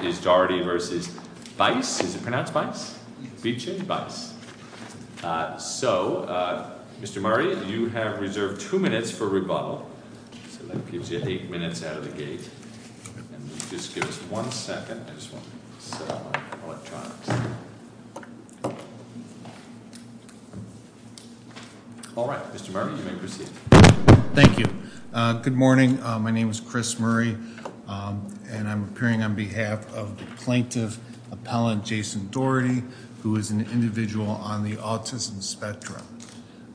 So, Mr. Murray, you have reserved two minutes for rebuttal, so that gives you eight minutes out of the gate. Just give us one second. I just want to set up my electronics. All right. Mr. Murray, you may proceed. Thank you. Good morning. My name is Chris Murray, and I'm appearing on behalf of the plaintiff, Appellant Jason Doherty, who is an individual on the autism spectrum.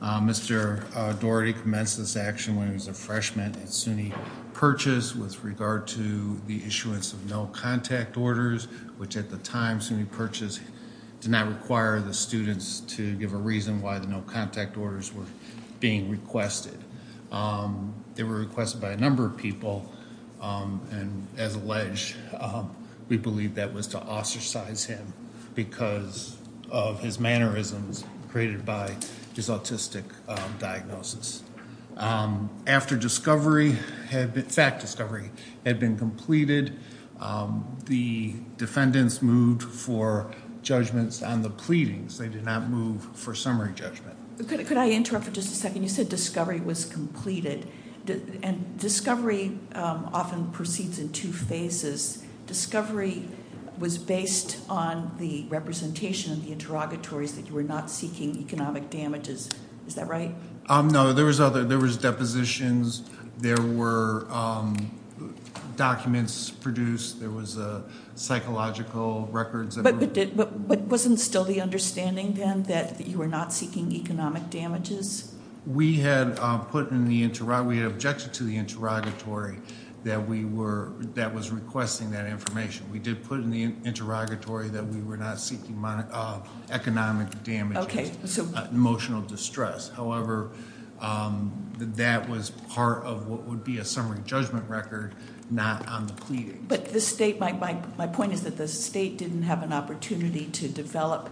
Mr. Doherty commenced this action when he was a freshman at SUNY Purchase with regard to the issuance of no contact orders, which at the time SUNY Purchase did not require the students to give a reason why the no contact orders were being requested. They were requested by a number of people, and as alleged, we believe that was to ostracize him because of his mannerisms created by his autistic diagnosis. After discovery, fact discovery, had been completed, the defendants moved for judgments on the pleadings. They did not move for summary judgment. Could I interrupt for just a second? You said discovery was completed, and discovery often proceeds in two phases. Discovery was based on the representation of the interrogatories that you were not seeking economic damages. Is that right? No. There was depositions. There were documents produced. There was psychological records. But wasn't still the understanding then that you were not seeking economic damages? We had put in the, we had objected to the interrogatory that we were, that was requesting that information. We did put in the interrogatory that we were not seeking economic damages, emotional distress. However, that was part of what would be a summary judgment record, not on the pleadings. But the state, my point is that the state didn't have an opportunity to develop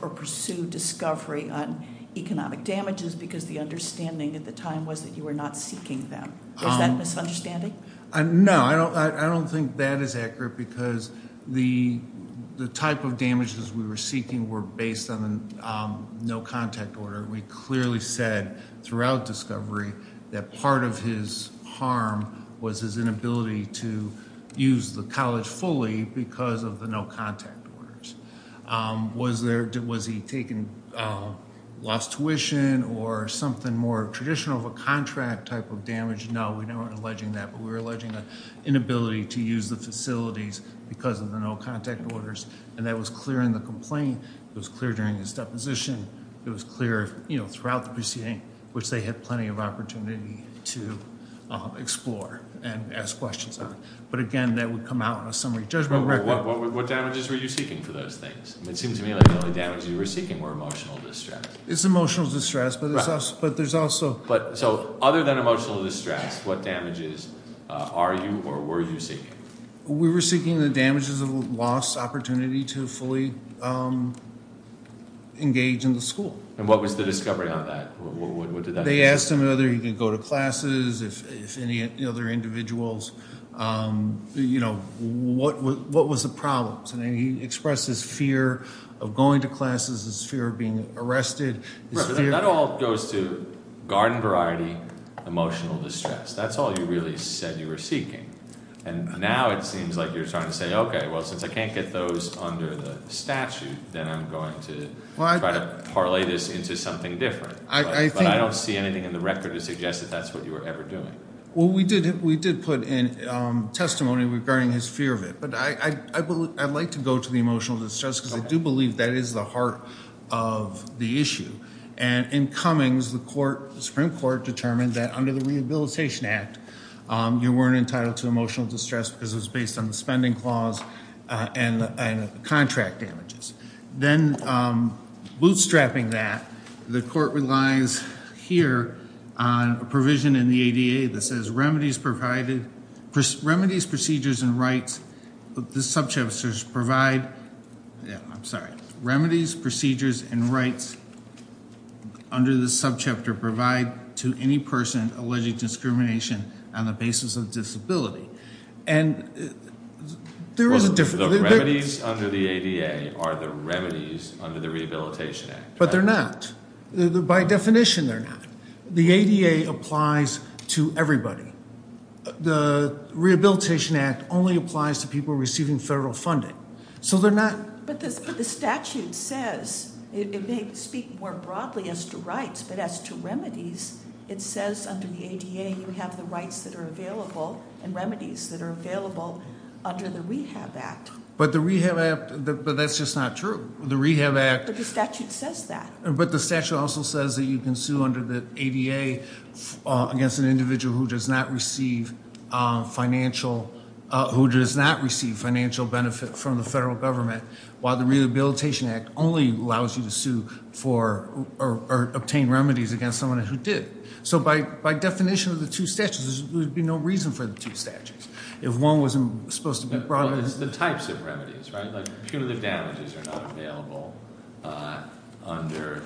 or pursue discovery on economic damages because the understanding at the time was that you were not seeking them. Is that a misunderstanding? No. I don't think that is accurate because the type of damages we were seeking were based on the no contact order. We clearly said throughout discovery that part of his harm was his inability to use the college fully because of the no contact orders. Was there, was he taking lost tuition or something more traditional of a contract type of damage? No. We weren't alleging that. But we were alleging an inability to use the facilities because of the no contact orders. And that was clear in the complaint. It was clear during his deposition. It was clear, you know, throughout the proceeding, which they had plenty of opportunity to explore and ask questions on. But again, that would come out in a summary judgment record. What damages were you seeking for those things? It seems to me like the only damage you were seeking were emotional distress. It's emotional distress, but there's also... So other than emotional distress, what damages are you or were you seeking? We were seeking the damages of lost opportunity to fully engage in the school. And what was the discovery on that? They asked him whether he could go to classes, if any other individuals, you know, what was the problems. And he expressed his fear of going to classes, his fear of being arrested. That all goes to garden variety, emotional distress. That's all you really said you were seeking. And now it seems like you're trying to say, okay, well, since I can't get those under the statute, then I'm going to try to parlay this into something different. But I don't see anything in the record to suggest that that's what you were ever doing. Well, we did put in testimony regarding his fear of it. But I'd like to go to the emotional distress because I do believe that is the heart of the issue. And in Cummings, the Supreme Court determined that under the Rehabilitation Act, you weren't entitled to emotional distress because it was based on the spending clause and contract damages. Then bootstrapping that, the court relies here on a provision in the ADA that says remedies provided, remedies, procedures, and rights, the subchapters provide, I'm sorry, remedies, procedures, and rights under the subchapter provide to any person alleging discrimination on the basis of disability. And there is a difference. The remedies under the ADA are the remedies under the Rehabilitation Act. But they're not. By definition, they're not. The ADA applies to everybody. The Rehabilitation Act only applies to people receiving federal funding. So they're not. But the statute says, it may speak more broadly as to rights, but as to remedies, it says under the ADA, you have the rights that are available and remedies that are available under the Rehab Act. But the Rehab Act, but that's just not true. The Rehab Act. But the statute says that. But the statute also says that you can sue under the ADA against an individual who does not receive financial, who does not receive financial benefit from the federal government, while the Rehabilitation Act only allows you to sue for, or obtain remedies against someone who did. So by definition of the two statutes, there would be no reason for the two statutes. If one wasn't supposed to be brought in. What's the types of remedies, right? Like punitive damages are not available under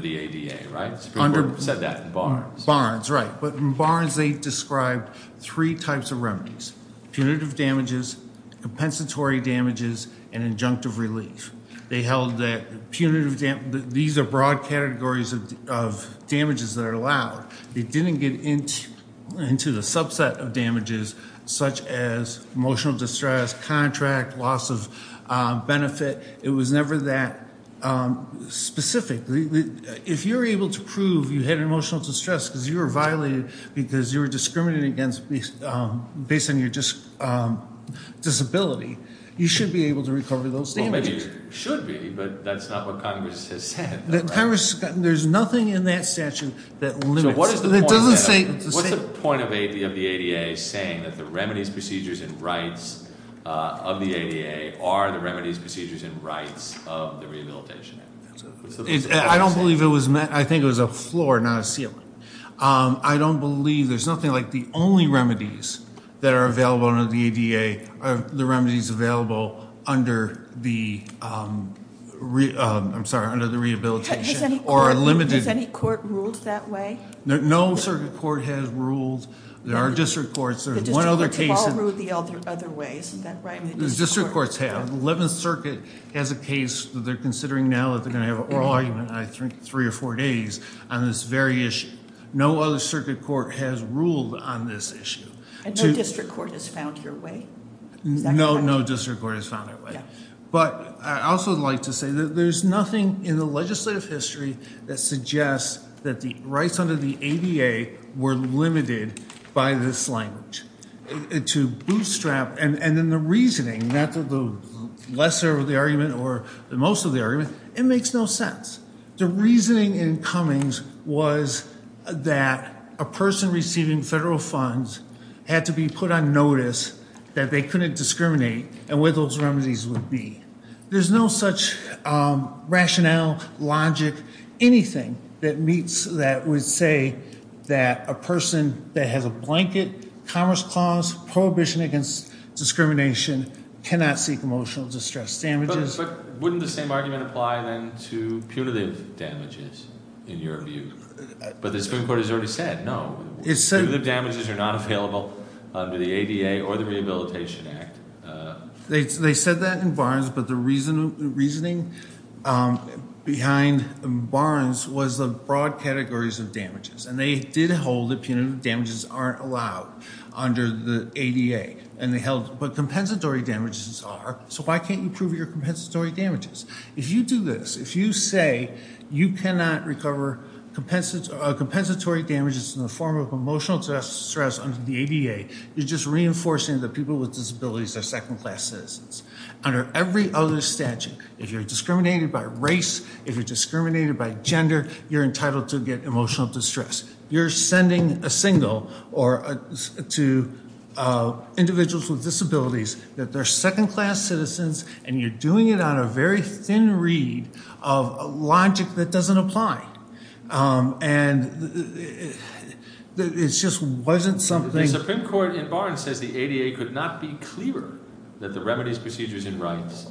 the ADA, right? It's pretty important. You said that in Barnes. Barnes, right. But in Barnes, they described three types of remedies. Punitive damages, compensatory damages, and injunctive relief. They held that punitive, these are broad categories of damages that are allowed. They didn't get into the subset of damages such as emotional distress, contract, loss of benefit. It was never that specific. If you're able to prove you had emotional distress because you were violated, because you were discriminated against based on your disability, you should be able to recover those damages. Well maybe you should be, but that's not what Congress has said. Congress, there's nothing in that statute that limits, that doesn't say. What's the point of the ADA saying that the remedies, procedures, and rights of the ADA are the remedies, procedures, and rights of the rehabilitation? I don't believe it was meant, I think it was a floor, not a ceiling. I don't believe, there's nothing like the only remedies that are available under the Has any court ruled that way? No circuit court has ruled, there are district courts, there's one other case. The district courts have all ruled the other way, isn't that right? District courts have. The 11th Circuit has a case that they're considering now that they're going to have an oral argument in I think three or four days on this very issue. No other circuit court has ruled on this issue. And no district court has found your way? No district court has found their way. But I also would like to say that there's nothing in the legislative history that suggests that the rights under the ADA were limited by this language. To bootstrap, and then the reasoning, not the lesser of the argument or the most of the argument, it makes no sense. The reasoning in Cummings was that a person receiving federal funds had to be put on notice that they couldn't discriminate and where those remedies would be. There's no such rationale, logic, anything that meets that would say that a person that has a blanket commerce clause, prohibition against discrimination, cannot seek emotional distress damages. But wouldn't the same argument apply then to punitive damages in your view? But the Supreme Court has already said, no, punitive damages are not available under the Rehabilitation Act. They said that in Barnes, but the reasoning behind Barnes was the broad categories of damages. And they did hold that punitive damages aren't allowed under the ADA. But compensatory damages are. So why can't you prove your compensatory damages? If you do this, if you say you cannot recover compensatory damages in the form of emotional distress under the ADA, you're just reinforcing that people with disabilities are second class citizens. Under every other statute, if you're discriminated by race, if you're discriminated by gender, you're entitled to get emotional distress. You're sending a signal to individuals with disabilities that they're second class citizens and you're doing it on a very thin reed of logic that doesn't apply. And it's just wasn't something- The Supreme Court in Barnes says the ADA could not be clearer that the remedies, procedures, and rights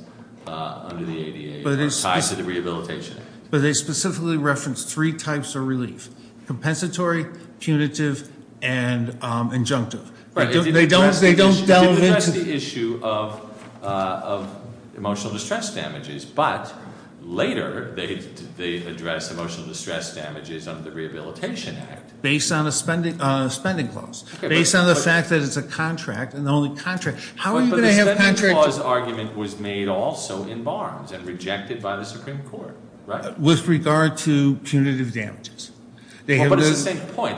under the ADA are tied to the Rehabilitation Act. But they specifically referenced three types of relief. Compensatory, punitive, and injunctive. They don't delve into- It didn't address the issue of emotional distress damages. But later, they address emotional distress damages under the Rehabilitation Act. Based on a spending clause. Based on the fact that it's a contract, and the only contract. How are you going to have contracts- But the spending clause argument was made also in Barnes and rejected by the Supreme Court, right? With regard to punitive damages. They have- But it's the same point.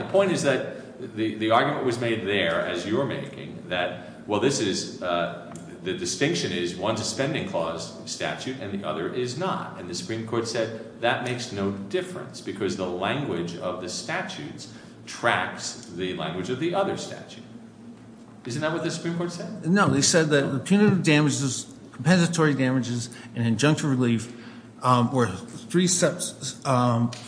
The distinction is one's a spending clause statute and the other is not. And the Supreme Court said that makes no difference because the language of the statutes tracks the language of the other statute. Isn't that what the Supreme Court said? No, they said that the punitive damages, compensatory damages, and injunctive relief were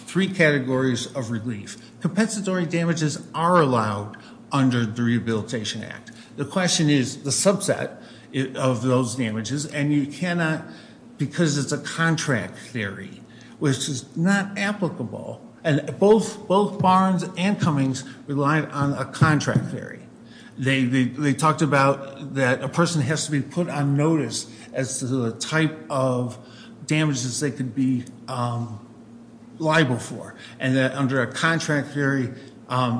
three categories of relief. Compensatory damages are allowed under the Rehabilitation Act. The question is the subset of those damages. And you cannot, because it's a contract theory, which is not applicable. And both Barnes and Cummings relied on a contract theory. They talked about that a person has to be put on notice as to the type of damages they could be liable for. And that under a contract theory,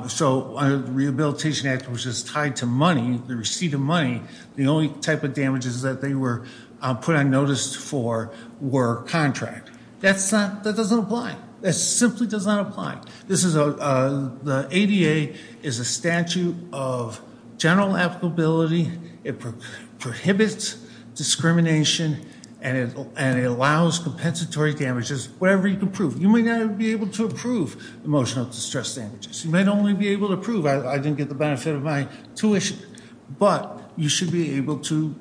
so under the Rehabilitation Act, which is tied to money, the receipt of money, the only type of damages that they were put on notice for were contract. That doesn't apply. That simply does not apply. The ADA is a statute of general applicability. It prohibits discrimination and it allows compensatory damages, whatever you can prove. You may not be able to prove emotional distress damages. You might only be able to prove I didn't get the benefit of my tuition. But you should be able to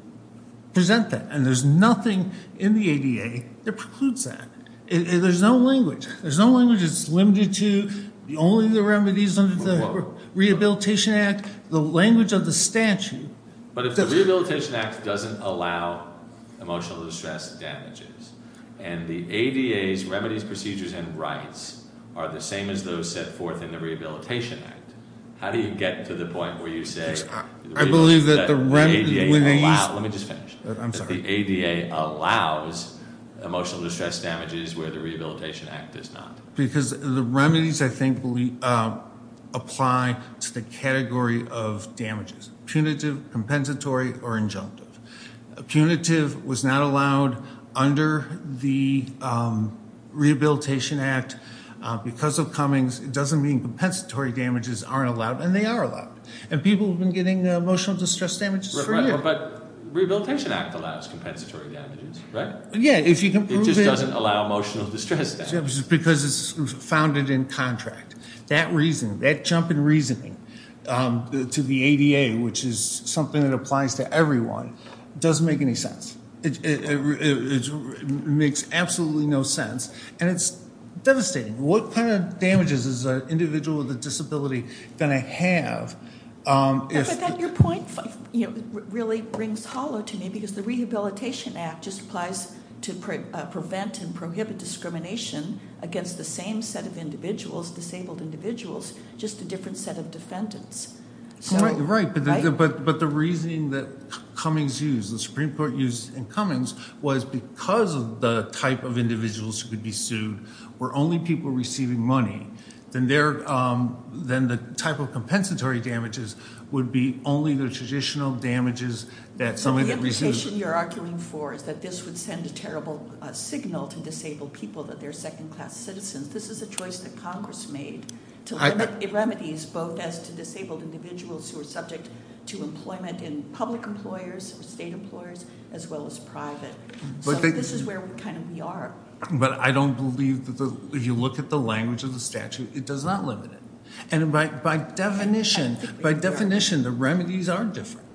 present that. And there's nothing in the ADA that precludes that. There's no language. There's no language that's limited to only the remedies under the Rehabilitation Act. The language of the statute- But if the Rehabilitation Act doesn't allow emotional distress damages, and the ADA's remedies, procedures, and rights are the same as those set forth in the Rehabilitation Act, how do you get to the point where you say- I believe that the remedy- Let me just finish. I'm sorry. The ADA allows emotional distress damages where the Rehabilitation Act does not. Because the remedies, I think, apply to the category of damages. Punitive, compensatory, or injunctive. Punitive was not allowed under the Rehabilitation Act because of Cummings. It doesn't mean compensatory damages aren't allowed, and they are allowed. And people have been getting emotional distress damages for years. But Rehabilitation Act allows compensatory damages, right? Yeah, if you can prove it- It just doesn't allow emotional distress damages. Because it's founded in contract. That reason, that jump in reasoning to the ADA, which is something that applies to everyone, doesn't make any sense. It makes absolutely no sense. And it's devastating. What kind of damages is an individual with a disability going to have if- But then your point really rings hollow to me, because the Rehabilitation Act just applies to prevent and disable individuals, just a different set of defendants. Right, but the reasoning that Cummings used, the Supreme Court used in Cummings, was because of the type of individuals who could be sued were only people receiving money. Then the type of compensatory damages would be only the traditional damages that somebody that receives- So the implication you're arguing for is that this would send a terrible signal to disabled people that they're second class citizens. This is a choice that Congress made to limit remedies both as to disabled individuals who are subject to employment in public employers, state employers, as well as private. So this is where we kind of, we are. But I don't believe, if you look at the language of the statute, it does not limit it. And by definition, the remedies are different.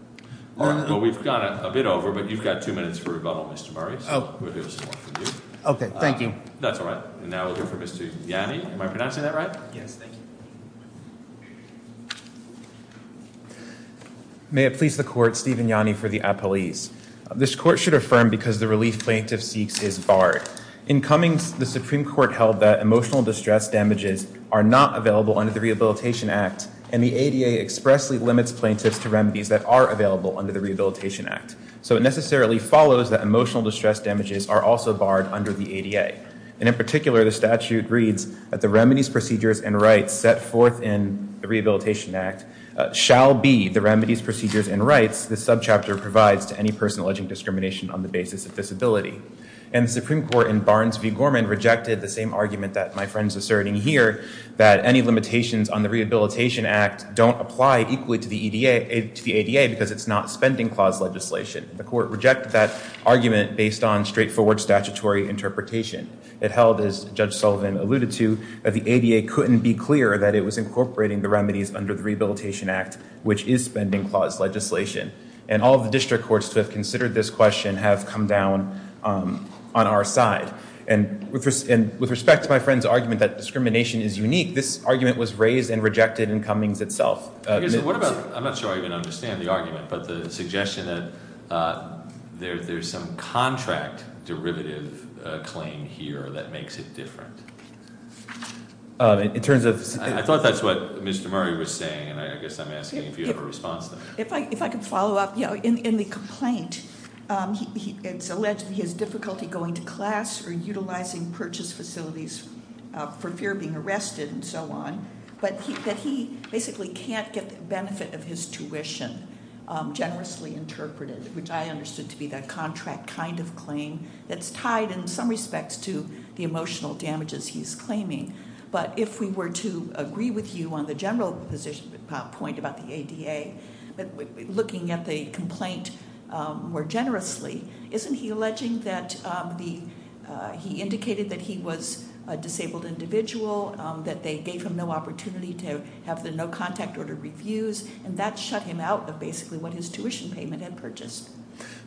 Well, we've gone a bit over, but you've got two minutes for rebuttal, Mr. Burris. We'll hear some more from you. Okay, thank you. That's all right, and now we'll hear from Mr. Yanni. Am I pronouncing that right? Yes, thank you. May it please the court, Steven Yanni for the appellees. This court should affirm because the relief plaintiff seeks is barred. In Cummings, the Supreme Court held that emotional distress damages are not available under the Rehabilitation Act, and the ADA expressly limits plaintiffs to remedies that are available under the Rehabilitation Act. So it necessarily follows that emotional distress damages are also barred under the ADA. And in particular, the statute reads that the remedies, procedures, and rights set forth in the Rehabilitation Act shall be the remedies, procedures, and rights this subchapter provides to any person alleging discrimination on the basis of disability. And the Supreme Court in Barnes v. Gorman rejected the same argument that my friend's asserting here, that any limitations on the Rehabilitation Act don't apply equally to the ADA because it's not spending clause legislation. The court rejected that argument based on straightforward statutory interpretation. It held, as Judge Sullivan alluded to, that the ADA couldn't be clear that it was incorporating the remedies under the Rehabilitation Act, which is spending clause legislation. And all the district courts to have considered this question have come down on our side. And with respect to my friend's argument that discrimination is unique, this argument was raised and rejected in Cummings itself. What about, I'm not sure I even understand the argument, but the suggestion that there's some contract derivative claim here that makes it different. In terms of- I thought that's what Mr. Murray was saying, and I guess I'm asking if you have a response to that. If I could follow up, in the complaint, it's alleged that he has difficulty going to class or utilizing purchase facilities for fear of being arrested and so on. But that he basically can't get the benefit of his tuition generously interpreted, which I understood to be that contract kind of claim that's tied in some respects to the emotional damages he's claiming. But if we were to agree with you on the general position, point about the ADA, looking at the complaint more generously, isn't he alleging that he indicated that he was a disabled individual, that they gave him no opportunity to have the no contact order reviews, and that shut him out of basically what his tuition payment had purchased?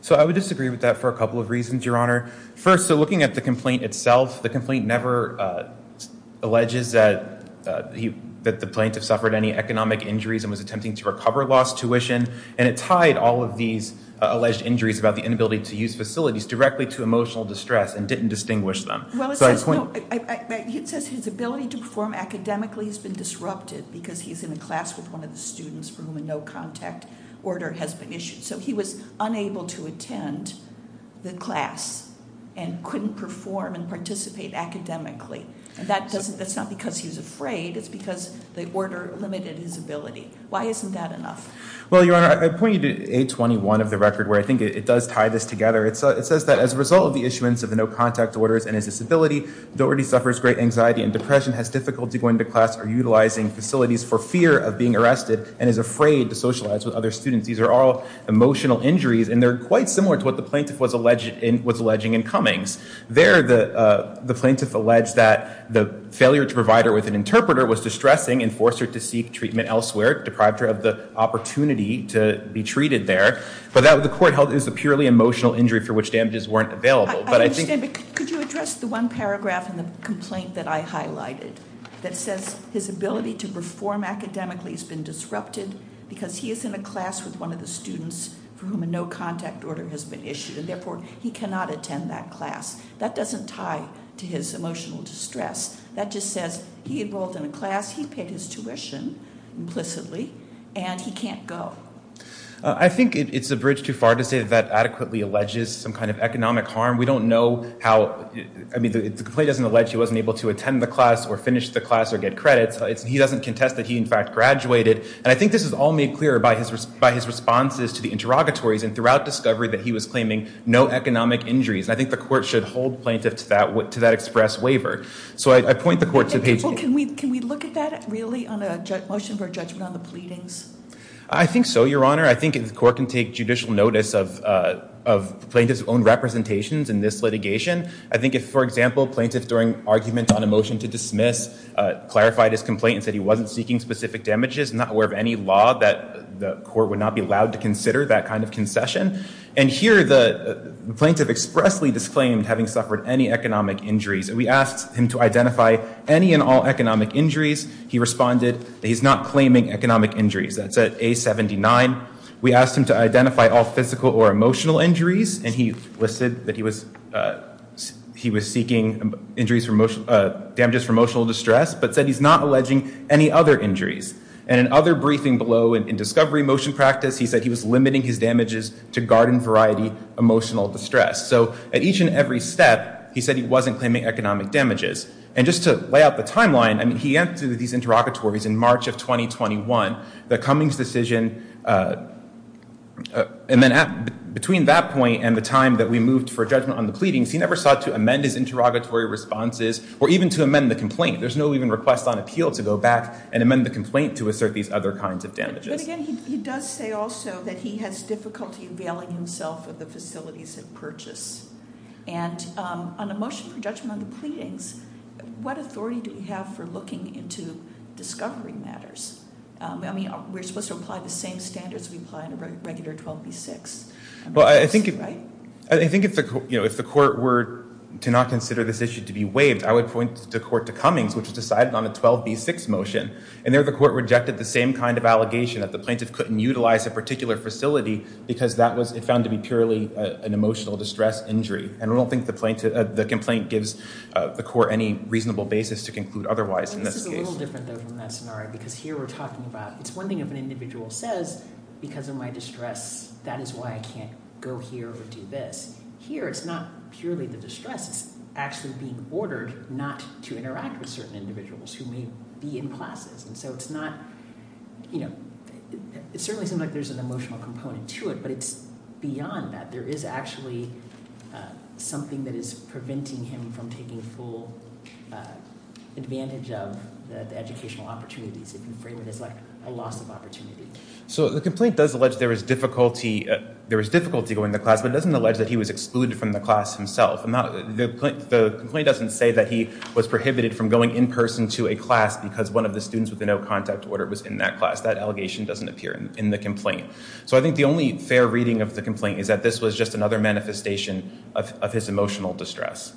So I would disagree with that for a couple of reasons, Your Honor. First, so looking at the complaint itself, the complaint never alleges that the plaintiff suffered any economic injuries and was attempting to recover lost tuition. And it tied all of these alleged injuries about the inability to use facilities directly to emotional distress and didn't distinguish them. So I- Well, it says his ability to perform academically has been disrupted because he's in a class with one of the students for whom a no contact order has been issued. So he was unable to attend the class and couldn't perform and participate academically. And that's not because he was afraid, it's because the order limited his ability. Why isn't that enough? Well, Your Honor, I point you to 821 of the record where I think it does tie this together. It says that as a result of the issuance of the no contact orders and his disability, Doherty suffers great anxiety and depression, has difficulty going to class or utilizing facilities for fear of being arrested, and is afraid to socialize with other students. These are all emotional injuries, and they're quite similar to what the plaintiff was alleging in Cummings. There, the plaintiff alleged that the failure to provide her with an interpreter was distressing and forced her to seek treatment elsewhere, deprived her of the opportunity to be treated there. But that, the court held, is a purely emotional injury for which damages weren't available. But I think- Could you address the one paragraph in the complaint that I highlighted that says his ability to perform academically has been disrupted because he is in a class with one of the students for whom a no contact order has been issued, and therefore he cannot attend that class. That doesn't tie to his emotional distress. That just says he enrolled in a class, he paid his tuition implicitly, and he can't go. I think it's a bridge too far to say that that adequately alleges some kind of economic harm. We don't know how, I mean, the complaint doesn't allege he wasn't able to attend the class or finish the class or get credits. He doesn't contest that he, in fact, graduated, and I think this is all made clearer by his responses to the interrogatories and throughout discovery that he was claiming no economic injuries. I think the court should hold plaintiff to that express waiver. So I point the court to page- Can we look at that really on a motion for judgment on the pleadings? I think so, your honor. I think the court can take judicial notice of plaintiff's own representations in this litigation. I think if, for example, plaintiff during argument on a motion to dismiss clarified his complaint and said he wasn't seeking specific damages, not aware of any law, that the court would not be allowed to consider that kind of concession. And here the plaintiff expressly disclaimed having suffered any economic injuries. We asked him to identify any and all economic injuries. He responded that he's not claiming economic injuries. That's at A-79. We asked him to identify all physical or emotional injuries, and he listed that he was seeking damages from emotional distress, but said he's not alleging any other injuries. And in other briefing below in discovery motion practice, he said he was limiting his damages to garden variety emotional distress. So at each and every step, he said he wasn't claiming economic damages. And just to lay out the timeline, I mean, he answered these interrogatories in March of 2021. The Cummings decision, and then between that point and the time that we moved for judgment on the pleadings, he never sought to amend his interrogatory responses or even to amend the complaint. There's no even request on appeal to go back and amend the complaint to assert these other kinds of damages. But again, he does say also that he has difficulty availing himself of the facilities of purchase. And on a motion for judgment on the pleadings, what authority do we have for looking into discovery matters? I mean, we're supposed to apply the same standards we apply in a regular 12B6. Right? I think if the court were to not consider this issue to be waived, I would point the court to Cummings, which decided on a 12B6 motion. And there the court rejected the same kind of allegation that the plaintiff couldn't utilize a particular facility because that was found to be purely an emotional distress injury. And I don't think the complaint gives the court any reasonable basis to conclude otherwise in this case. This is a little different though from that scenario, because here we're talking about, it's one thing if an individual says, because of my distress, that is why I can't go here or do this. Here, it's not purely the distress, it's actually being ordered not to interact with certain individuals who may be in classes. And so it's not, it certainly seems like there's an emotional component to it, but it's beyond that. There is actually something that is preventing him from taking full advantage of the educational opportunities. You can frame it as a loss of opportunity. So the complaint does allege there is difficulty going to class, but it doesn't allege that he was excluded from the class himself. The complaint doesn't say that he was prohibited from going in person to a class because one of the students with a no contact order was in that class. That allegation doesn't appear in the complaint. So I think the only fair reading of the complaint is that this was just another manifestation of his emotional distress.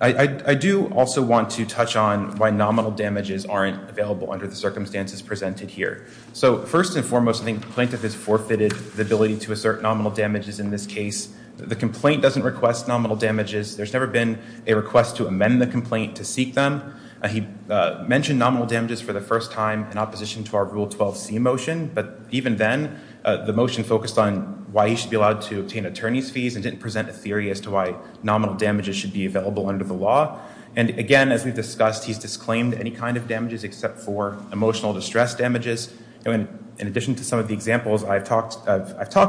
I do also want to touch on why nominal damages aren't available under the circumstances presented here. So first and foremost, I think the plaintiff has forfeited the ability to assert nominal damages in this case. The complaint doesn't request nominal damages. There's never been a request to amend the complaint to seek them. He mentioned nominal damages for the first time in opposition to our Rule 12C motion. But even then, the motion focused on why he should be allowed to obtain attorney's fees and didn't present a theory as to why nominal damages should be available under the law. And again, as we've discussed, he's disclaimed any kind of damages except for emotional distress damages. And in addition to some of the examples I've talked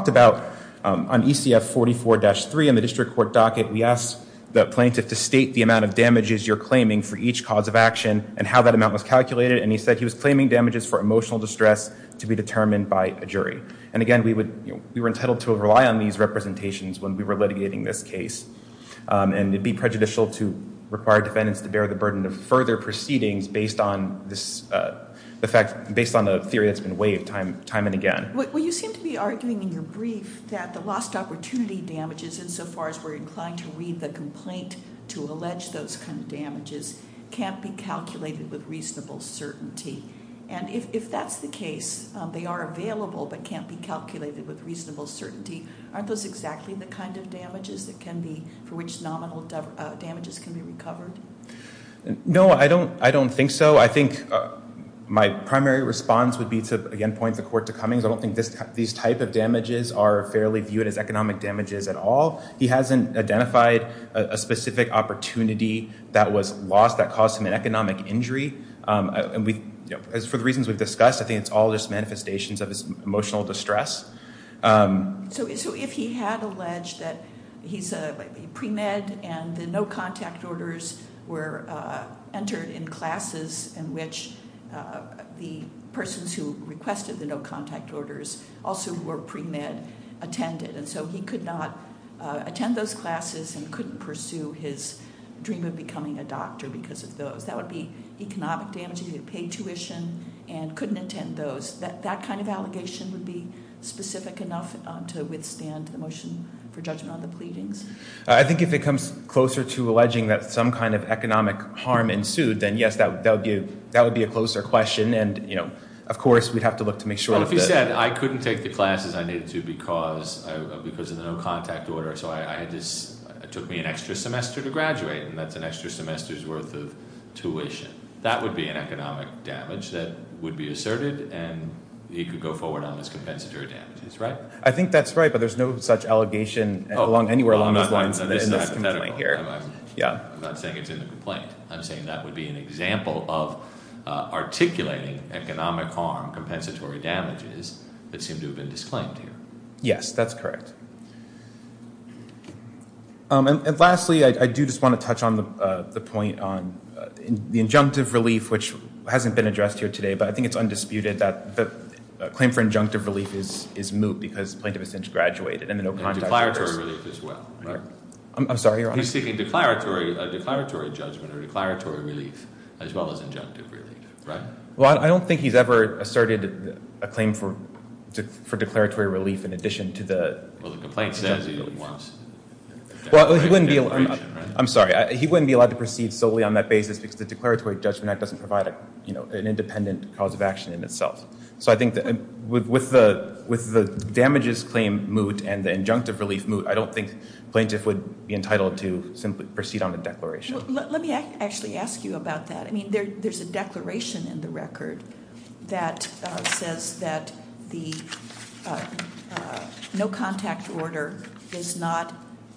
about, on ECF 44-3 in the district court docket, we asked the plaintiff to state the amount of damages you're claiming for each cause of action and how that amount was calculated. And he said he was claiming damages for emotional distress to be determined by a jury. And again, we were entitled to rely on these representations when we were litigating this case. And it'd be prejudicial to require defendants to bear the burden of further proceedings based on the theory that's been waived time and again. Well, you seem to be arguing in your brief that the lost opportunity damages, insofar as we're inclined to read the complaint to allege those kind of damages, can't be calculated with reasonable certainty. And if that's the case, they are available but can't be calculated with reasonable certainty. Aren't those exactly the kind of damages that can be, for which nominal damages can be recovered? No, I don't think so. I think my primary response would be to, again, point the court to Cummings. I don't think these type of damages are fairly viewed as economic damages at all. He hasn't identified a specific opportunity that was lost that caused him an economic injury. And for the reasons we've discussed, I think it's all just manifestations of his emotional distress. So if he had alleged that he's a pre-med and the no contact orders were entered in classes in which the persons who requested the no contact orders also were pre-med attended. And so he could not attend those classes and couldn't pursue his dream of becoming a doctor because of those. That would be economic damage. He would pay tuition and couldn't attend those. That kind of allegation would be specific enough to withstand the motion for judgment on the pleadings? I think if it comes closer to alleging that some kind of economic harm ensued, then yes, that would be a closer question. And of course, we'd have to look to make sure that- Well, if he said, I couldn't take the classes I needed to because of the no contact order. So it took me an extra semester to graduate, and that's an extra semester's worth of tuition. That would be an economic damage that would be asserted, and he could go forward on his compensatory damages, right? I think that's right, but there's no such allegation anywhere along those lines in this commission. I'm not saying it's in the complaint. I'm saying that would be an example of articulating economic harm, compensatory damages that seem to have been disclaimed here. Yes, that's correct. And lastly, I do just want to touch on the point on the injunctive relief, which hasn't been addressed here today. But I think it's undisputed that the claim for injunctive relief is moot because the plaintiff has since graduated, and the no contact order is- And declaratory relief as well, right? I'm sorry, Your Honor. He's seeking a declaratory judgment or declaratory relief as well as injunctive relief, right? Well, I don't think he's ever asserted a claim for declaratory relief in addition to the- Well, the complaint says he wants- Well, he wouldn't be allowed- An independent cause of action in itself. So I think that with the damages claim moot and the injunctive relief moot, I don't think plaintiff would be entitled to simply proceed on the declaration. Let me actually ask you about that. I mean, there's a declaration in the record that says that the no contact order is not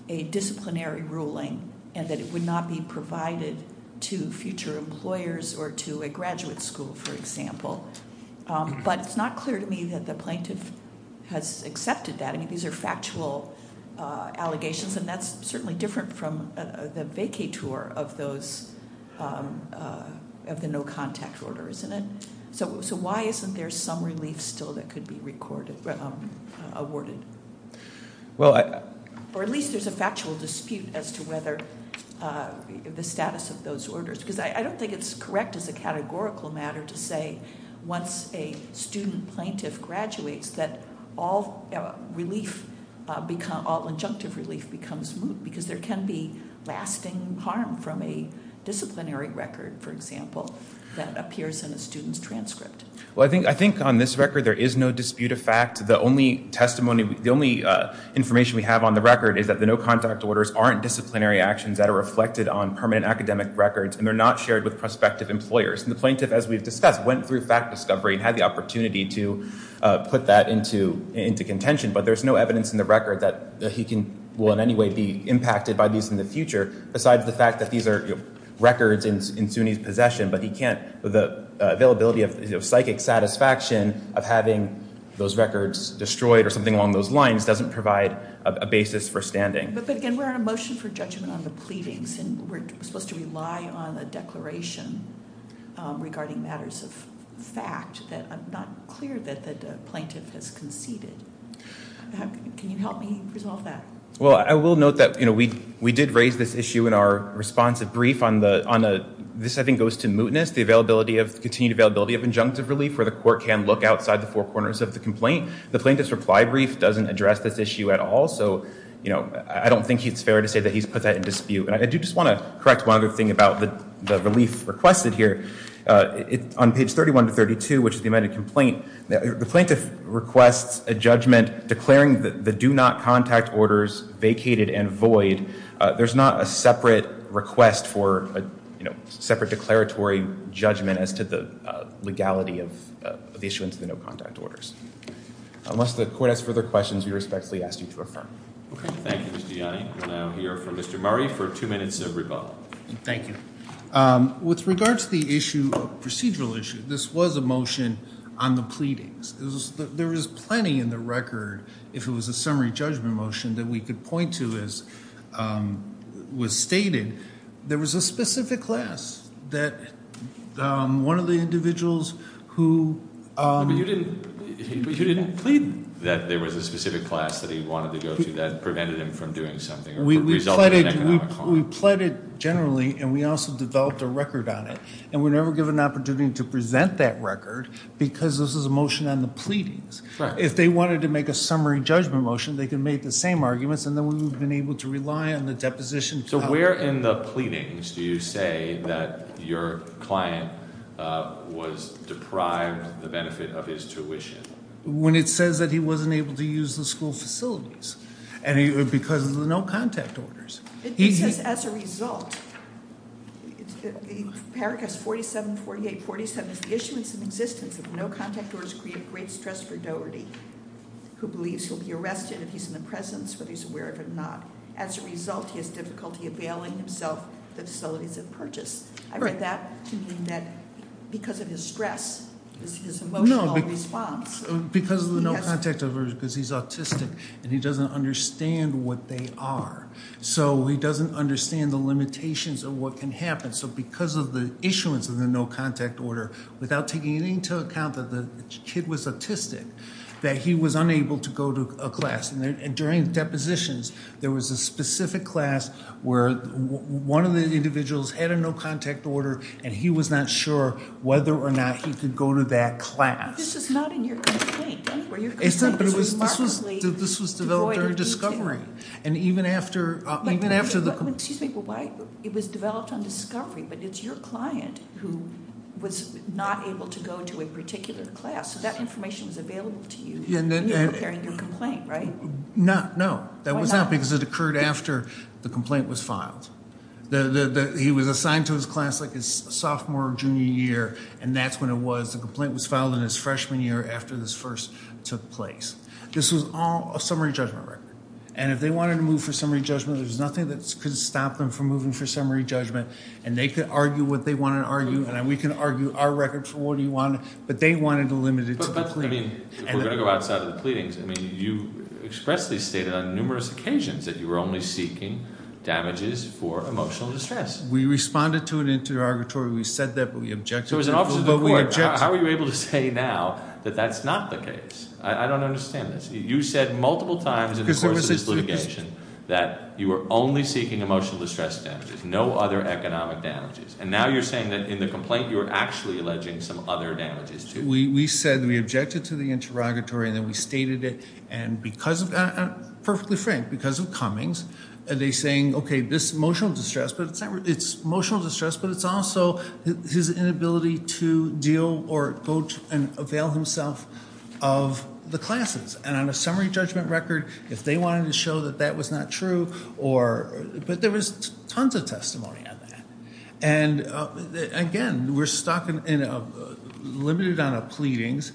a disciplinary ruling, and that it would not be provided to future employers or to a graduate school, for example. But it's not clear to me that the plaintiff has accepted that. I mean, these are factual allegations, and that's certainly different from the vacay tour of the no contact order, isn't it? So why isn't there some relief still that could be awarded? Or at least there's a factual dispute as to whether the status of those orders. Because I don't think it's correct as a categorical matter to say once a student plaintiff graduates that all injunctive relief becomes moot. Because there can be lasting harm from a disciplinary record, for example, that appears in a student's transcript. Well, I think on this record there is no dispute of fact. The only testimony, the only information we have on the record is that the no contact orders aren't disciplinary actions that are reflected on permanent academic records. And they're not shared with prospective employers. And the plaintiff, as we've discussed, went through fact discovery and had the opportunity to put that into contention. But there's no evidence in the record that he will in any way be impacted by these in the future, besides the fact that these are records in Sunni's possession. But he can't, the availability of psychic satisfaction of having those records destroyed or something along those lines doesn't provide a basis for standing. But again, we're on a motion for judgment on the pleadings. And we're supposed to rely on a declaration regarding matters of fact that I'm not clear that the plaintiff has conceded. Can you help me resolve that? Well, I will note that we did raise this issue in our responsive brief on the, this I think goes to mootness, the continued availability of injunctive relief where the court can look outside the four corners of the complaint. The plaintiff's reply brief doesn't address this issue at all. So I don't think it's fair to say that he's put that in dispute. And I do just want to correct one other thing about the relief requested here. On page 31 to 32, which is the amended complaint, the plaintiff requests a judgment declaring the do not contact orders vacated and void. There's not a separate request for a separate declaratory judgment as to the legality of the issuance of the no contact orders. Unless the court has further questions, we respectfully ask you to affirm. Okay, thank you, Mr. Yanni. We'll now hear from Mr. Murray for two minutes of rebuttal. Thank you. With regards to the issue, procedural issue, this was a motion on the pleadings. There is plenty in the record, if it was a summary judgment motion, that we could point to as was stated. There was a specific class that one of the individuals who- But you didn't plead that there was a specific class that he wanted to go to that prevented him from doing something or resulted in economic harm. We pleaded generally, and we also developed a record on it. And we're never given an opportunity to present that record, because this is a motion on the pleadings. If they wanted to make a summary judgment motion, they could make the same arguments, and then we would have been able to rely on the deposition. So where in the pleadings do you say that your client was deprived the benefit of his tuition? When it says that he wasn't able to use the school facilities, because of the no contact orders. It says, as a result, paragraph 474847 is the issuance in existence of no contact orders create great stress for Doherty. Who believes he'll be arrested if he's in the presence, whether he's aware of it or not. As a result, he has difficulty availing himself of the facilities of purchase. I read that to mean that because of his stress, his emotional response. Because of the no contact order, because he's autistic and he doesn't understand what they are. So he doesn't understand the limitations of what can happen. So because of the issuance of the no contact order, without taking into account that the kid was autistic, that he was unable to go to a class, and during depositions, there was a specific class where one of the individuals had a no contact order, and he was not sure whether or not he could go to that class. This is not in your complaint anywhere. Your complaint is remarkably devoid of detail. This was developed during discovery. And even after the- Excuse me, but why? It was developed on discovery, but it's your client who was not able to go to a particular class. So that information was available to you when you were preparing your complaint, right? No, no. That was not because it occurred after the complaint was filed. He was assigned to his class like his sophomore or junior year. And that's when it was. The complaint was filed in his freshman year after this first took place. This was all a summary judgment record. And if they wanted to move for summary judgment, there's nothing that could stop them from moving for summary judgment. And they could argue what they wanted to argue, and we can argue our record for what we want, but they wanted to limit it to the plea. But, I mean, if we're going to go outside of the pleadings, I mean, you expressly stated on numerous occasions that you were only seeking damages for emotional distress. We responded to an interrogatory. We said that, but we objected. So as an officer of the court, how are you able to say now that that's not the case? I don't understand this. You said multiple times in the course of this litigation that you were only seeking emotional distress damages, no other economic damages. And now you're saying that in the complaint, you're actually alleging some other damages, too. We said that we objected to the interrogatory, and then we stated it. And because of that, perfectly frank, because of Cummings, they're saying, okay, this emotional distress, but it's emotional distress, but it's also his inability to deal or go and avail himself of the classes. And on a summary judgment record, if they wanted to show that that was not true, or, but there was tons of testimony on that. And, again, we're stuck in a, limited on a pleadings.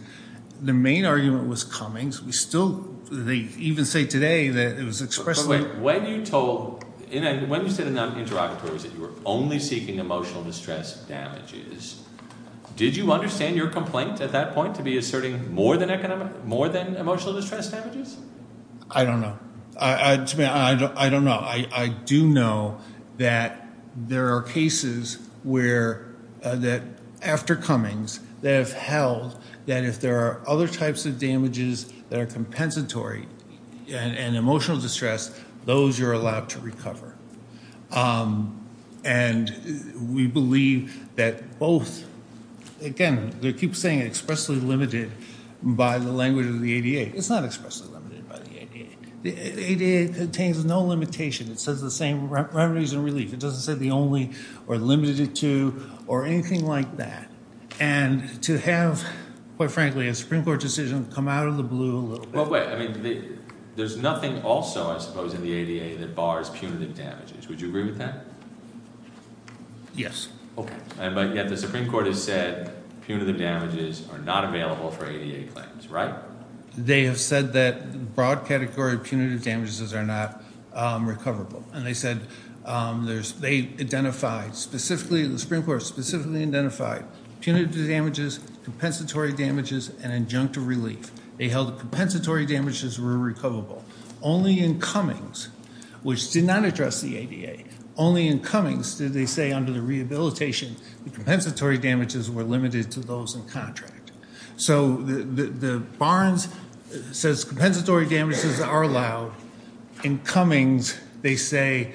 The main argument was Cummings. We still, they even say today that it was expressly. When you told, when you said in that interrogatory that you were only seeking emotional distress damages, did you understand your complaint at that point to be asserting more than emotional distress damages? I don't know. I don't know. I do know that there are cases where, that after Cummings, they have held that if there are other types of damages that are compensatory and emotional distress, those you're allowed to recover. And we believe that both, again, they keep saying expressly limited by the language of the ADA. It's not expressly limited by the ADA. The ADA contains no limitation. It says the same remedies and relief. It doesn't say the only or limited to or anything like that. And to have, quite frankly, a Supreme Court decision come out of the blue a little bit. But wait, I mean, there's nothing also, I suppose, in the ADA that bars punitive damages. Would you agree with that? Yes. Okay. But yet the Supreme Court has said punitive damages are not available for ADA claims, right? They have said that broad category punitive damages are not recoverable. And they said they identified specifically, the Supreme Court specifically identified punitive damages, compensatory damages, and injunctive relief. They held compensatory damages were recoverable. Only in Cummings, which did not address the ADA, only in Cummings did they say under the rehabilitation, the compensatory damages were limited to those in contract. So the Barnes says compensatory damages are allowed. In Cummings, they say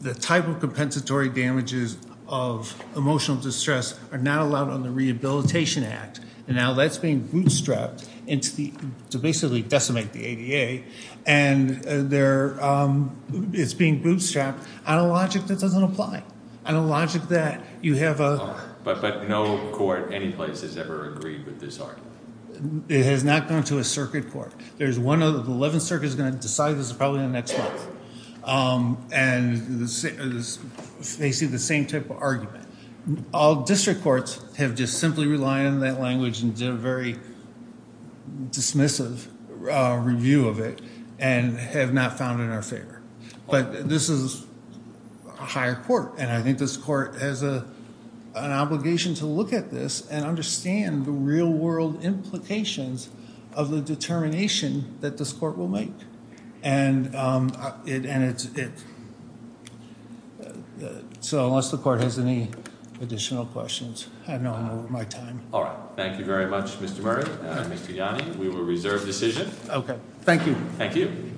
the type of compensatory damages of emotional distress are not allowed on the Rehabilitation Act. And now that's being bootstrapped into the, to basically decimate the ADA. And it's being bootstrapped on a logic that doesn't apply, on a logic that you have a. But no court any place has ever agreed with this argument. It has not gone to a circuit court. There's one, the 11th Circuit is going to decide this probably in the next month. And they see the same type of argument. All district courts have just simply relied on that language and did a very dismissive review of it. And have not found it in our favor. But this is a higher court. And I think this court has an obligation to look at this and understand the real world implications of the determination that this court will make. And it, so unless the court has any additional questions, I know I'm over my time. All right, thank you very much, Mr. Murray and Mr. Yanni. We will reserve decision. Okay, thank you. Thank you.